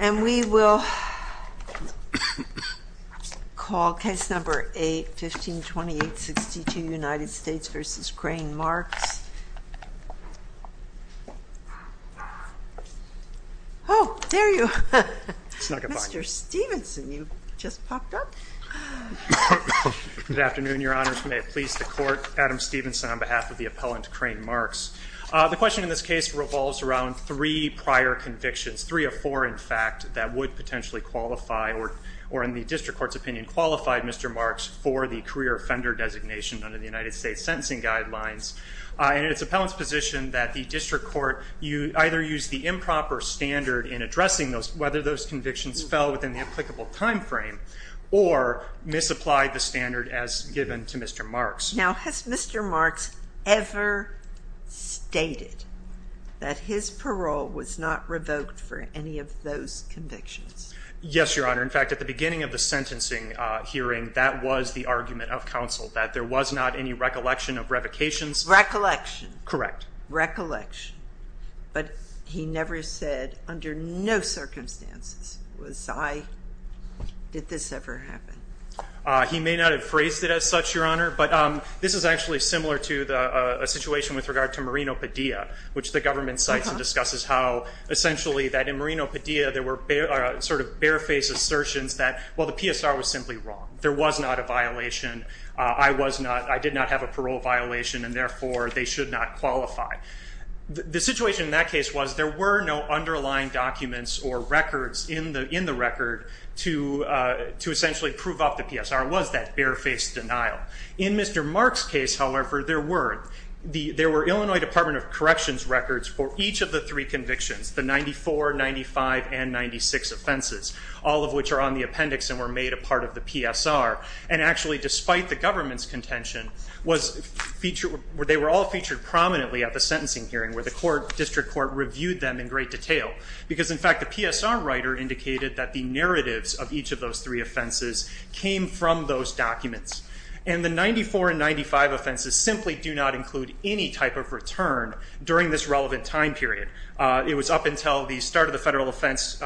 And we will call case number 8, 152862, United States v. Crane Marks. Oh, there you are. Mr. Stevenson, you've just popped up. Good afternoon, Your Honors. May it please the Court, Adam Stevenson on behalf of the appellant Crane Marks. The question in this case revolves around three prior convictions, three or four, in fact, that would potentially qualify, or in the district court's opinion, qualified Mr. Marks for the career offender designation under the United States sentencing guidelines. And it's appellant's position that the district court either used the improper standard in addressing whether those convictions fell within the applicable time frame or misapplied the standard as given to Mr. Marks. Now, has Mr. Marks ever stated that his parole was not revoked for any of those convictions? Yes, Your Honor. In fact, at the beginning of the sentencing hearing, that was the argument of counsel, that there was not any recollection of revocations. Recollection. Correct. Recollection. But he never said, under no circumstances, was I, did this ever happen. He may not have phrased it as such, Your Honor. This is actually similar to a situation with regard to Marino Padilla, which the government cites and discusses how, essentially, that in Marino Padilla, there were sort of barefaced assertions that, well, the PSR was simply wrong. There was not a violation. I did not have a parole violation, and therefore, they should not qualify. The situation in that case was there were no underlying documents or records in the record to essentially prove up the PSR. It was that barefaced denial. In Mr. Mark's case, however, there were Illinois Department of Corrections records for each of the three convictions, the 94, 95, and 96 offenses, all of which are on the appendix and were made a part of the PSR. And actually, despite the government's contention, they were all featured prominently at the sentencing hearing, where the district court reviewed them in great detail. Because, in fact, the PSR writer indicated that the narratives of each of those three offenses came from those documents. And the 94 and 95 offenses simply do not include any type of return during this relevant time period. It was up until the start of the federal offense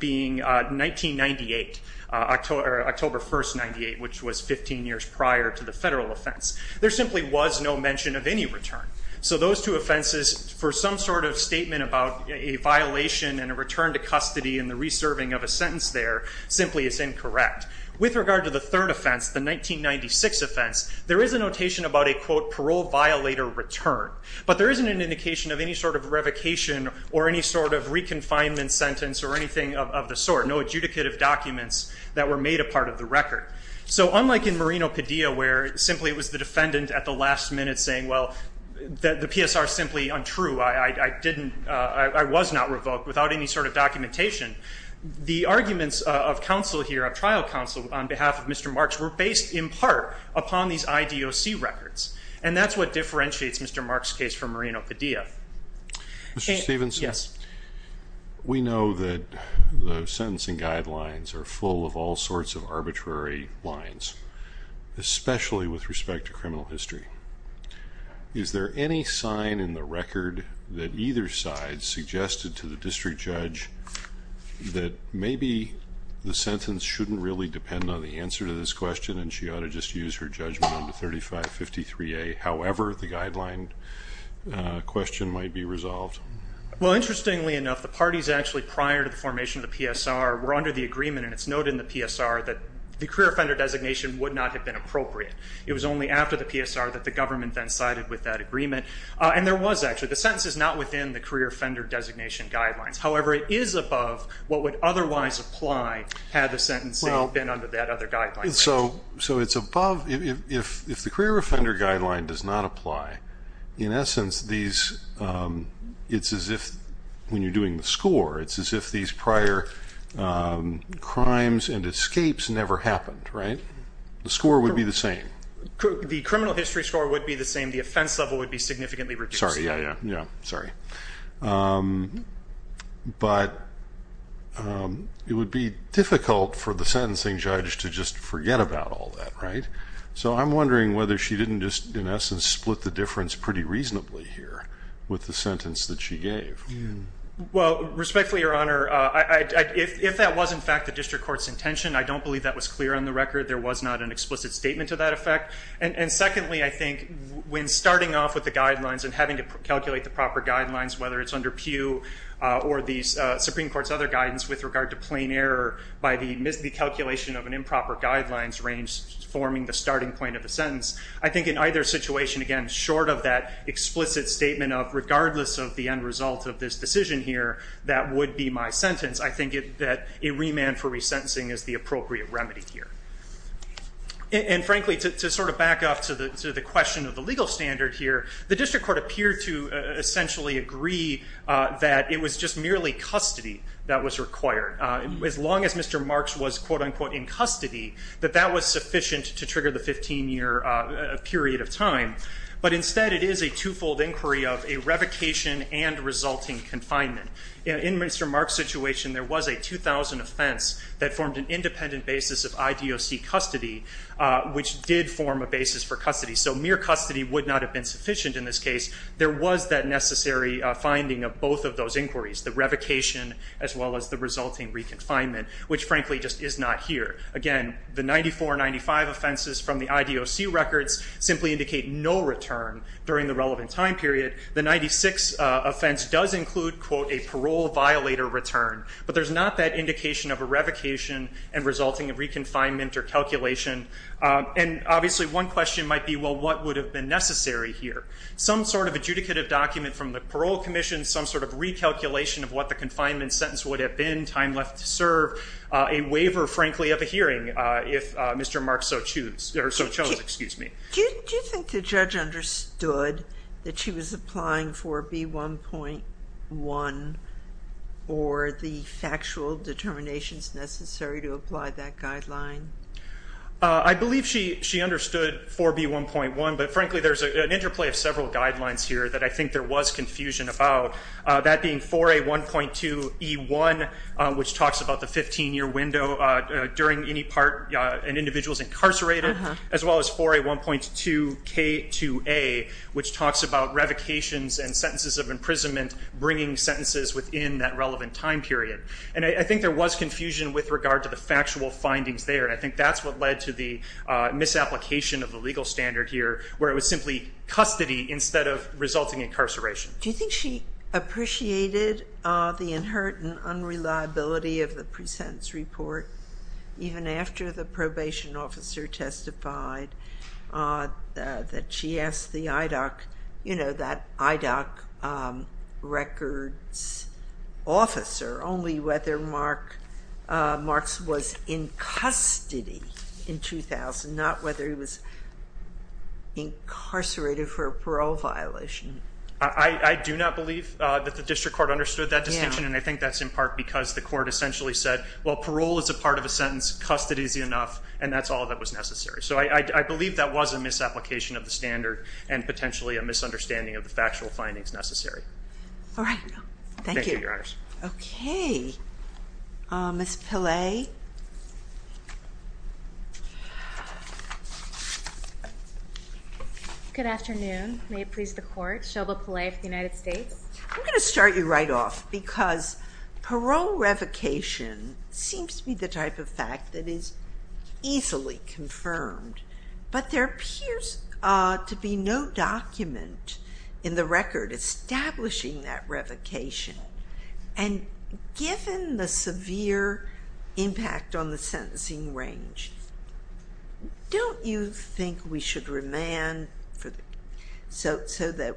being 1998, October 1, 98, which was 15 years prior to the federal offense. There simply was no mention of any return. So those two offenses, for some sort of statement about a violation and a return to custody and the reserving of a sentence there, simply is incorrect. With regard to the third offense, the 1996 offense, there is a notation about a, quote, parole violator return. But there isn't an indication of any sort of revocation or any sort of reconfinement sentence or anything of the sort. No adjudicative documents that were made a part of the record. So unlike in Marino Padilla, where simply it was the defendant at the last minute saying, well, the PSR is simply untrue. I was not revoked without any sort of documentation. The arguments of trial counsel on behalf of Mr. Marks were based, in part, upon these IDOC records. And that's what differentiates Mr. Marks' case from Marino Padilla. Mr. Stephenson? Yes. We know that the sentencing guidelines are full of all sorts of arbitrary lines, especially with respect to criminal history. Is there any sign in the record that either side suggested to the district judge that maybe the sentence shouldn't really depend on the answer to this question, and she ought to just use her judgment on the 3553A, however the guideline question might be resolved? Well, interestingly enough, the parties actually prior to the formation of the PSR were under the agreement, and it's noted in the PSR, that the career offender designation would not have been appropriate. It was only after the PSR that the government then sided with that agreement. And there was actually, the sentence is not within the career offender designation guidelines. However, it is above what would otherwise apply had the sentencing been under that other guideline. So it's above, if the career offender guideline does not apply, in essence, it's as if, when you're doing the score, it's as if these prior crimes and escapes never happened, right? The score would be the same. The criminal history score would be the same. The offense level would be significantly reduced. Yeah, sorry. But it would be difficult for the sentencing judge to just forget about all that, right? So I'm wondering whether she didn't just, in essence, split the difference pretty reasonably here with the sentence that she gave. Well, respectfully, Your Honor, if that was, in fact, the district court's intention, I don't believe that was clear on the record. There was not an explicit statement to that effect. And secondly, I think, when starting off with the guidelines and having to calculate the proper guidelines, whether it's under Pew or the Supreme Court's other guidance with regard to plain error by the miscalculation of an improper guidelines range forming the starting point of the sentence, I think in either situation, again, short of that explicit statement of, regardless of the end result of this decision here, that would be my sentence, I think that a remand for resentencing is the appropriate remedy here. And frankly, to sort of back up to the question of the legal standard here, the district court appeared to essentially agree that it was just merely custody that was required. As long as Mr. Marks was, quote unquote, in custody, that that was sufficient to trigger the 15-year period of time. But instead, it is a twofold inquiry of a revocation and resulting confinement. In Mr. Marks' situation, there was a 2,000 offense that formed an independent basis of IDOC custody, which did form a basis for custody. So mere custody would not have been sufficient in this case. There was that necessary finding of both of those inquiries, the revocation as well as the resulting re-confinement, which frankly just is not here. Again, the 94, 95 offenses from the IDOC records simply indicate no return during the relevant time period. The 96 offense does include, quote, a parole violator return. But there's not that indication of a revocation and resulting in re-confinement or calculation. And obviously, one question might be, well, what would have been necessary here? Some sort of adjudicative document from the parole commission, some sort of recalculation of what the confinement sentence would have been, time left to serve, a waiver, frankly, of a hearing, if Mr. Marks so chose. Do you think the judge understood that she was applying for B1.1 or the factual determinations necessary to apply that guideline? I believe she understood for B1.1. But frankly, there's an interplay of several guidelines here that I think there was confusion about. That being 4A1.2E1, which talks about the 15-year window during any part an individual's incarcerated, as well as 4A1.2K2A, which talks about revocations and sentences of imprisonment bringing sentences within that relevant time period. And I think there was confusion with regard to the factual findings there. I think that's what led to the misapplication of the legal standard here, where it was simply custody instead of resulting incarceration. Do you think she appreciated the inherent unreliability of the pre-sentence report, even after the probation officer testified that she asked the IDOC, that IDOC records officer, only whether Marks was in custody in 2000, not whether he was incarcerated for a parole violation? I do not believe that the district court understood that distinction. And I think that's in part because the court essentially said, well, parole is a part of a sentence. Custody is enough. And that's all that was necessary. So I believe that was a misapplication of the standard and potentially a misunderstanding of the factual findings necessary. All right. Thank you. Thank you, Your Honors. OK. Ms. Pillay. Good afternoon. May it please the court. Shelba Pillay for the United States. I'm going to start you right off, because parole revocation seems to be the type of fact that is easily confirmed. But there appears to be no document in the record establishing that revocation. And given the severe impact on the sentencing range, don't you think we should remand so that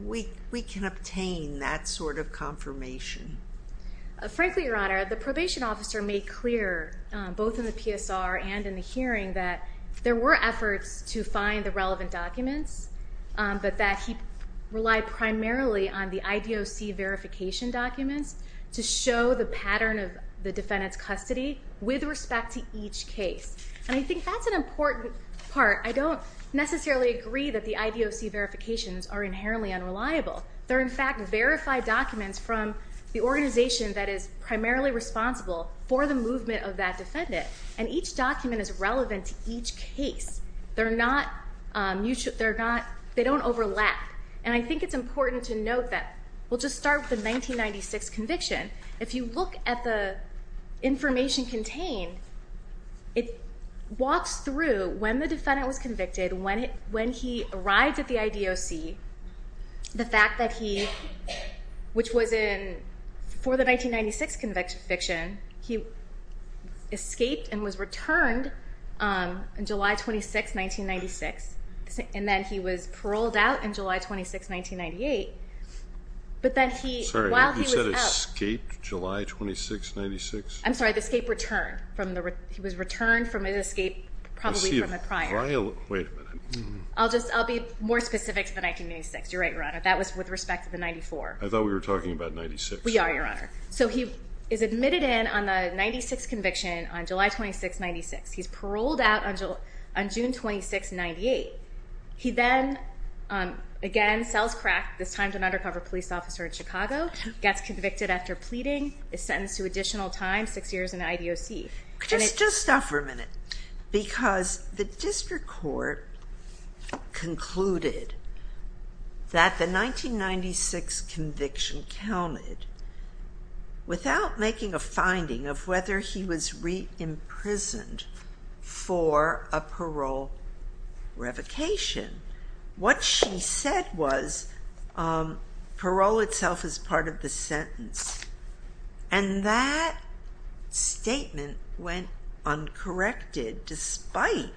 we can obtain that sort of confirmation? Frankly, Your Honor, the probation officer made clear, both in the PSR and in the hearing, that there were efforts to find the relevant documents, but that he relied primarily on the IDOC verification documents to show the pattern of the defendant's custody with respect to each case. And I think that's an important part. I don't necessarily agree that the IDOC verifications are inherently unreliable. They're, in fact, verified documents from the organization that is primarily responsible for the movement of that defendant. And each document is relevant to each case. They don't overlap. And I think it's important to note that we'll just start with the 1996 conviction. If you look at the information contained, it walks through when the defendant was convicted, when he arrived at the IDOC, the fact that he, which was in, for the 1996 conviction, he escaped and was returned on July 26, 1996. And then he was paroled out in July 26, 1998. But then he, while he was out. Sorry, you said escaped July 26, 1996? I'm sorry, the escape return. He was returned from an escape probably from a prior. Wait a minute. I'll just be more specific to the 1996. You're right, Your Honor. That was with respect to the 94. I thought we were talking about 96. We are, Your Honor. So he is admitted in on the 96 conviction on July 26, 1996. He's paroled out on June 26, 1998. He then, again, sells crack, this time to an undercover police officer in Chicago, gets convicted after pleading, is Just stop for a minute. Because the district court concluded that the 1996 conviction counted without making a finding of whether he was re-imprisoned for a parole revocation. What she said was, parole itself is part of the sentence. And that statement went uncorrected despite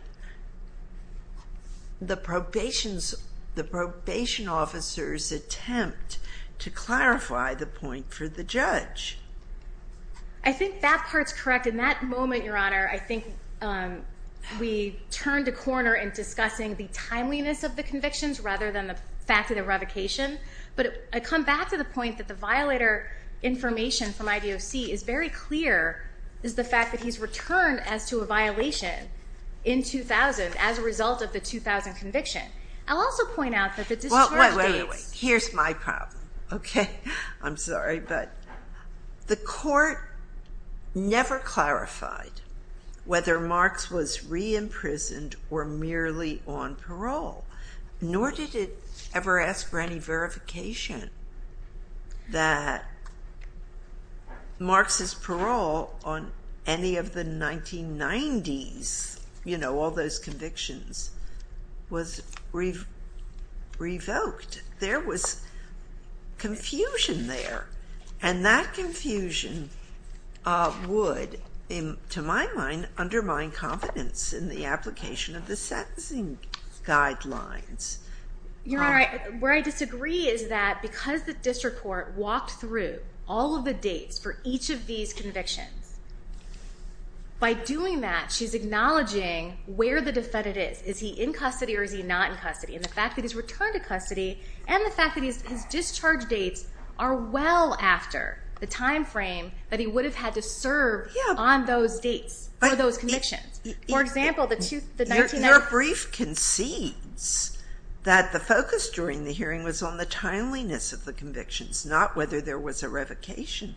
the probation officer's attempt to clarify the point for the judge. I think that part's correct. In that moment, Your Honor, I think we turned a corner in discussing the timeliness of the convictions rather than the fact of the revocation. But I come back to the point that the violator information from IDOC is very clear, is the fact that he's returned as to a violation in 2000 as a result of the 2000 conviction. I'll also point out that the district court states Here's my problem, OK? I'm sorry. But the court never clarified whether Marks was re-imprisoned or merely on parole, nor did it ever ask for any verification that Marks' parole on any of the 1990s, all those convictions, was revoked. There was confusion there. And that confusion would, to my mind, undermine confidence in the application of the sentencing guidelines. Your Honor, where I disagree is that because the district court walked through all of the dates for each of these convictions, by doing that, she's acknowledging where the defendant is. Is he in custody or is he not in custody? And the fact that he's returned to custody, and the fact that his discharge dates are well after the time frame that he would have had to serve on those dates for those convictions. For example, the 1990s. Your brief concedes that the focus during the hearing was on the timeliness of the convictions, not whether there was a revocation.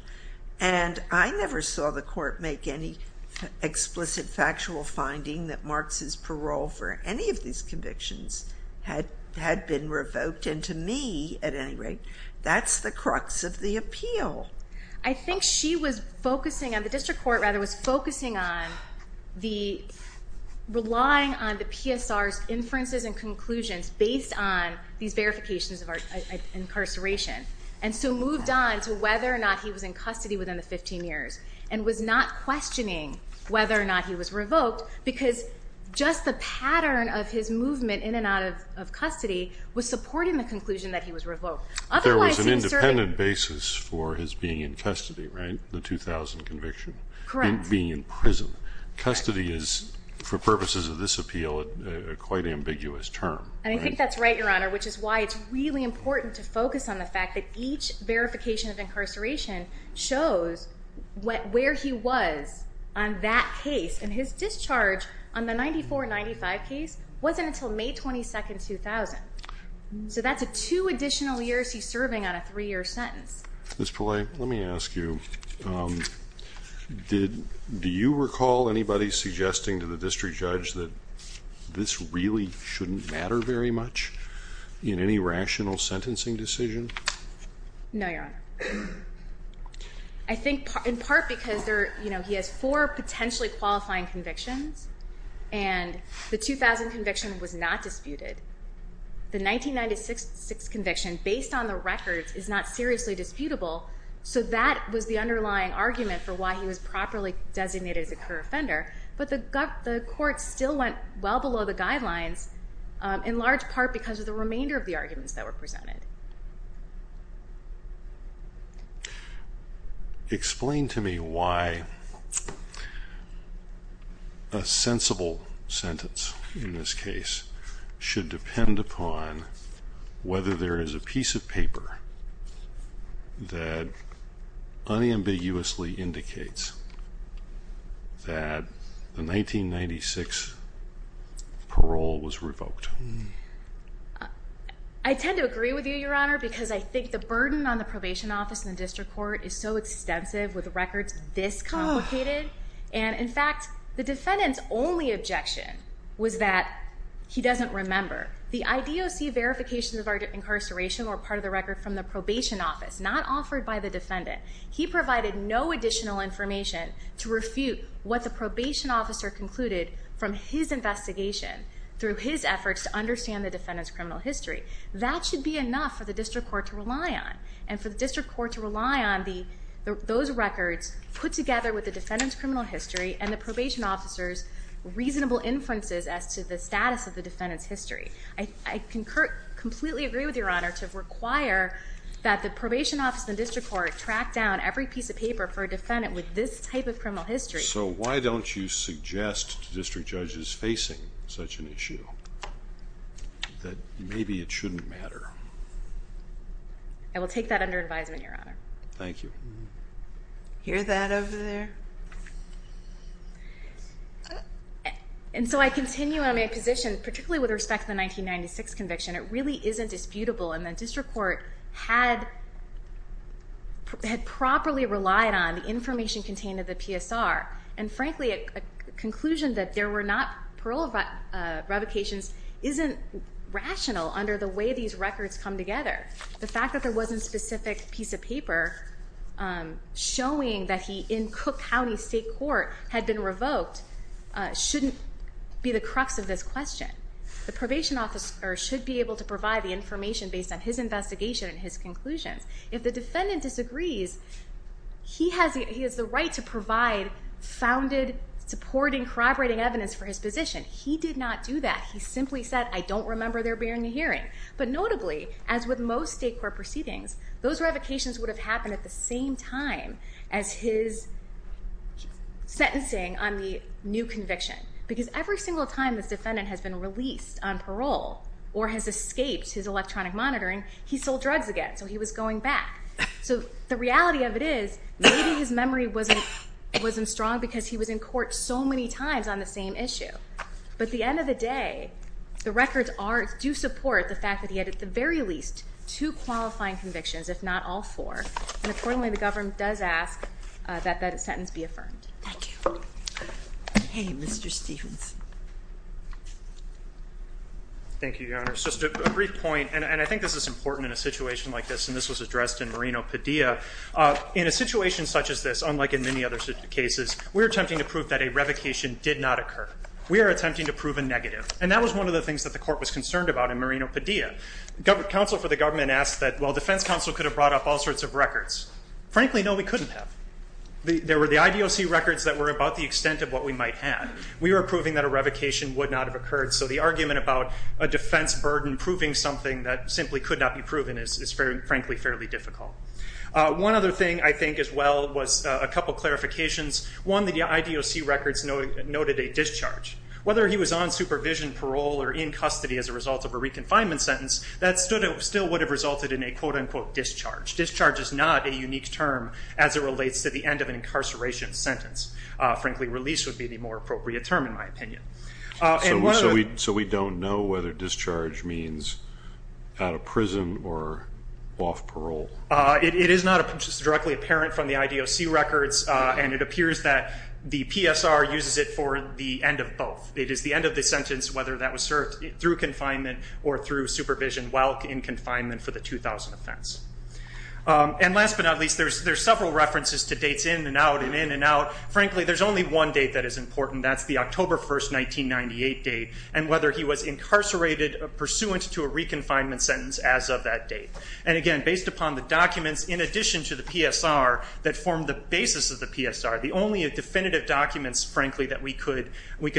And I never saw the court make any explicit factual finding that Marks' parole for any of these convictions had been revoked. And to me, at any rate, that's the crux of the appeal. I think she was focusing on, the district court, rather, was focusing on relying on the PSR's inferences and conclusions based on these verifications of incarceration. And so moved on to whether or not he was in custody within the 15 years, and was not questioning whether or not he was revoked. Because just the pattern of his movement in and out of custody was supporting the conclusion that he was revoked. Otherwise, he was serving. There was an independent basis for his being in custody, right? The 2000 conviction. Being in prison. Custody is, for purposes of this appeal, a quite ambiguous term. And I think that's right, Your Honor, which is why it's really important to focus on the fact that each verification of incarceration shows where he was on that case. And his discharge on the 94-95 case wasn't until May 22, 2000. So that's two additional years he's serving on a three-year sentence. Ms. Pillay, let me ask you, do you recall anybody suggesting to the district judge that this really shouldn't matter very much in any rational sentencing decision? No, Your Honor. I think in part because he has four potentially qualifying convictions. And the 2000 conviction was not disputed. The 1996 conviction, based on the records, is not seriously disputable. So that was the underlying argument for why he was properly designated as a co-offender. But the court still went well below the guidelines, in large part because of the remainder of the arguments that were presented. Explain to me why a sensible sentence in this case should depend upon whether there is a piece of paper that unambiguously indicates that the 1996 parole was revoked. I tend to agree with you, Your Honor, because I think the burden on the probation office in the district court is so extensive with records this complicated. And in fact, the defendant's only objection was that he doesn't remember. The IDOC verifications of our incarceration were part of the record from the probation office, not offered by the defendant. He provided no additional information to refute what the probation officer concluded from his investigation through his efforts to understand the defendant's criminal history. That should be enough for the district court to rely on. And for the district court to rely on those records put together with the defendant's criminal history and the probation officer's reasonable inferences as to the status of the defendant's history. I completely agree with Your Honor to require that the probation office in the district court track down every piece of paper for a defendant with this type of criminal history. So why don't you suggest to district judges facing such an issue that maybe it shouldn't matter? I will take that under advisement, Your Honor. Thank you. Hear that over there? And so I continue on my position, particularly with respect to the 1996 conviction. It really isn't disputable. And the district court had properly relied on the information contained in the PSR. And frankly, a conclusion that there were not parole revocations isn't rational under the way these records come together. The fact that there wasn't a specific piece of paper showing that he, in Cook County State Court, had been revoked shouldn't be the crux of this question. The probation officer should be able to provide the information based on his investigation and his conclusions. If the defendant disagrees, he has the right to provide founded, supporting, corroborating evidence for his position. He did not do that. He simply said, I don't remember there being a hearing. But notably, as with most state court proceedings, those revocations would have happened at the same time as his sentencing on the new conviction. Because every single time this defendant has been released on parole or has escaped his electronic monitoring, he sold drugs again. So he was going back. So the reality of it is, maybe his memory wasn't strong because he was in court so many times on the same issue. But at the end of the day, the records do support the fact that he had, at the very least, two qualifying convictions, if not all four. And accordingly, the government does ask that that sentence be affirmed. Thank you. Hey, Mr. Stephens. Thank you, Your Honor. Just a brief point. And I think this is important in a situation like this. And this was addressed in Marino Padilla. In a situation such as this, unlike in many other cases, we're attempting to prove that a revocation did not occur. We are attempting to prove a negative. And that was one of the things that the court was concerned about in Marino Padilla. Counsel for the government asked that, well, defense counsel could have brought up all sorts of records. Frankly, no, we couldn't have. There were the IDOC records that were about the extent of what we might have. We were proving that a revocation would not have occurred. So the argument about a defense burden proving something that simply could not be proven is, frankly, fairly difficult. One other thing, I think, as well, was a couple of clarifications. One, the IDOC records noted a discharge. Whether he was on supervision, parole, or in custody as a result of a reconfinement sentence, that still would have resulted in a, quote unquote, discharge. Discharge is not a unique term as it relates to the end of an incarceration sentence. Frankly, release would be the more appropriate term, in my opinion. So we don't know whether discharge means out of prison or off parole? It is not directly apparent from the IDOC records. And it appears that the PSR uses it for the end of both. It is the end of the sentence, whether that was served through confinement or through supervision while in confinement for the 2000 offense. And last but not least, there's several references to dates in and out, and in and out. Frankly, there's only one date that is important. That's the October 1st, 1998 date, and whether he was incarcerated pursuant to a reconfinement sentence as of that date. And again, based upon the documents, in addition to the PSR that form the basis of the PSR, the only definitive documents, frankly, that we could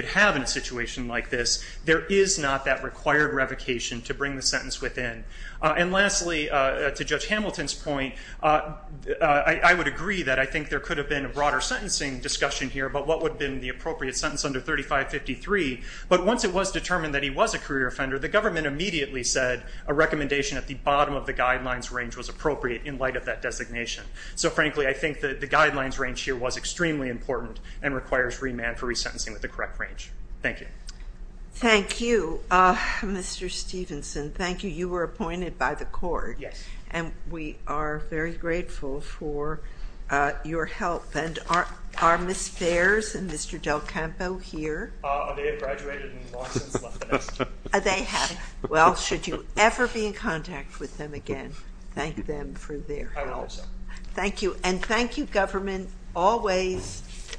have in a situation like this, there is not that required revocation to bring the sentence within. And lastly, to Judge Hamilton's point, I would agree that I think there could have been a broader sentencing discussion here about what would have been the appropriate sentence under 3553. But once it was determined that he was a career offender, the government immediately said a recommendation at the bottom of the guidelines range was appropriate in light of that designation. So frankly, I think that the guidelines range here was extremely important and requires remand for resentencing with the correct range. Thank you. Thank you, Mr. Stevenson. Thank you. You were appointed by the court. And we are very grateful for your help. And are Ms. Fares and Mr. Del Campo here? They have graduated and have long since left the desk. They have. Well, should you ever be in contact with them again, thank them for their help. I will also. Thank you. And thank you, government, always.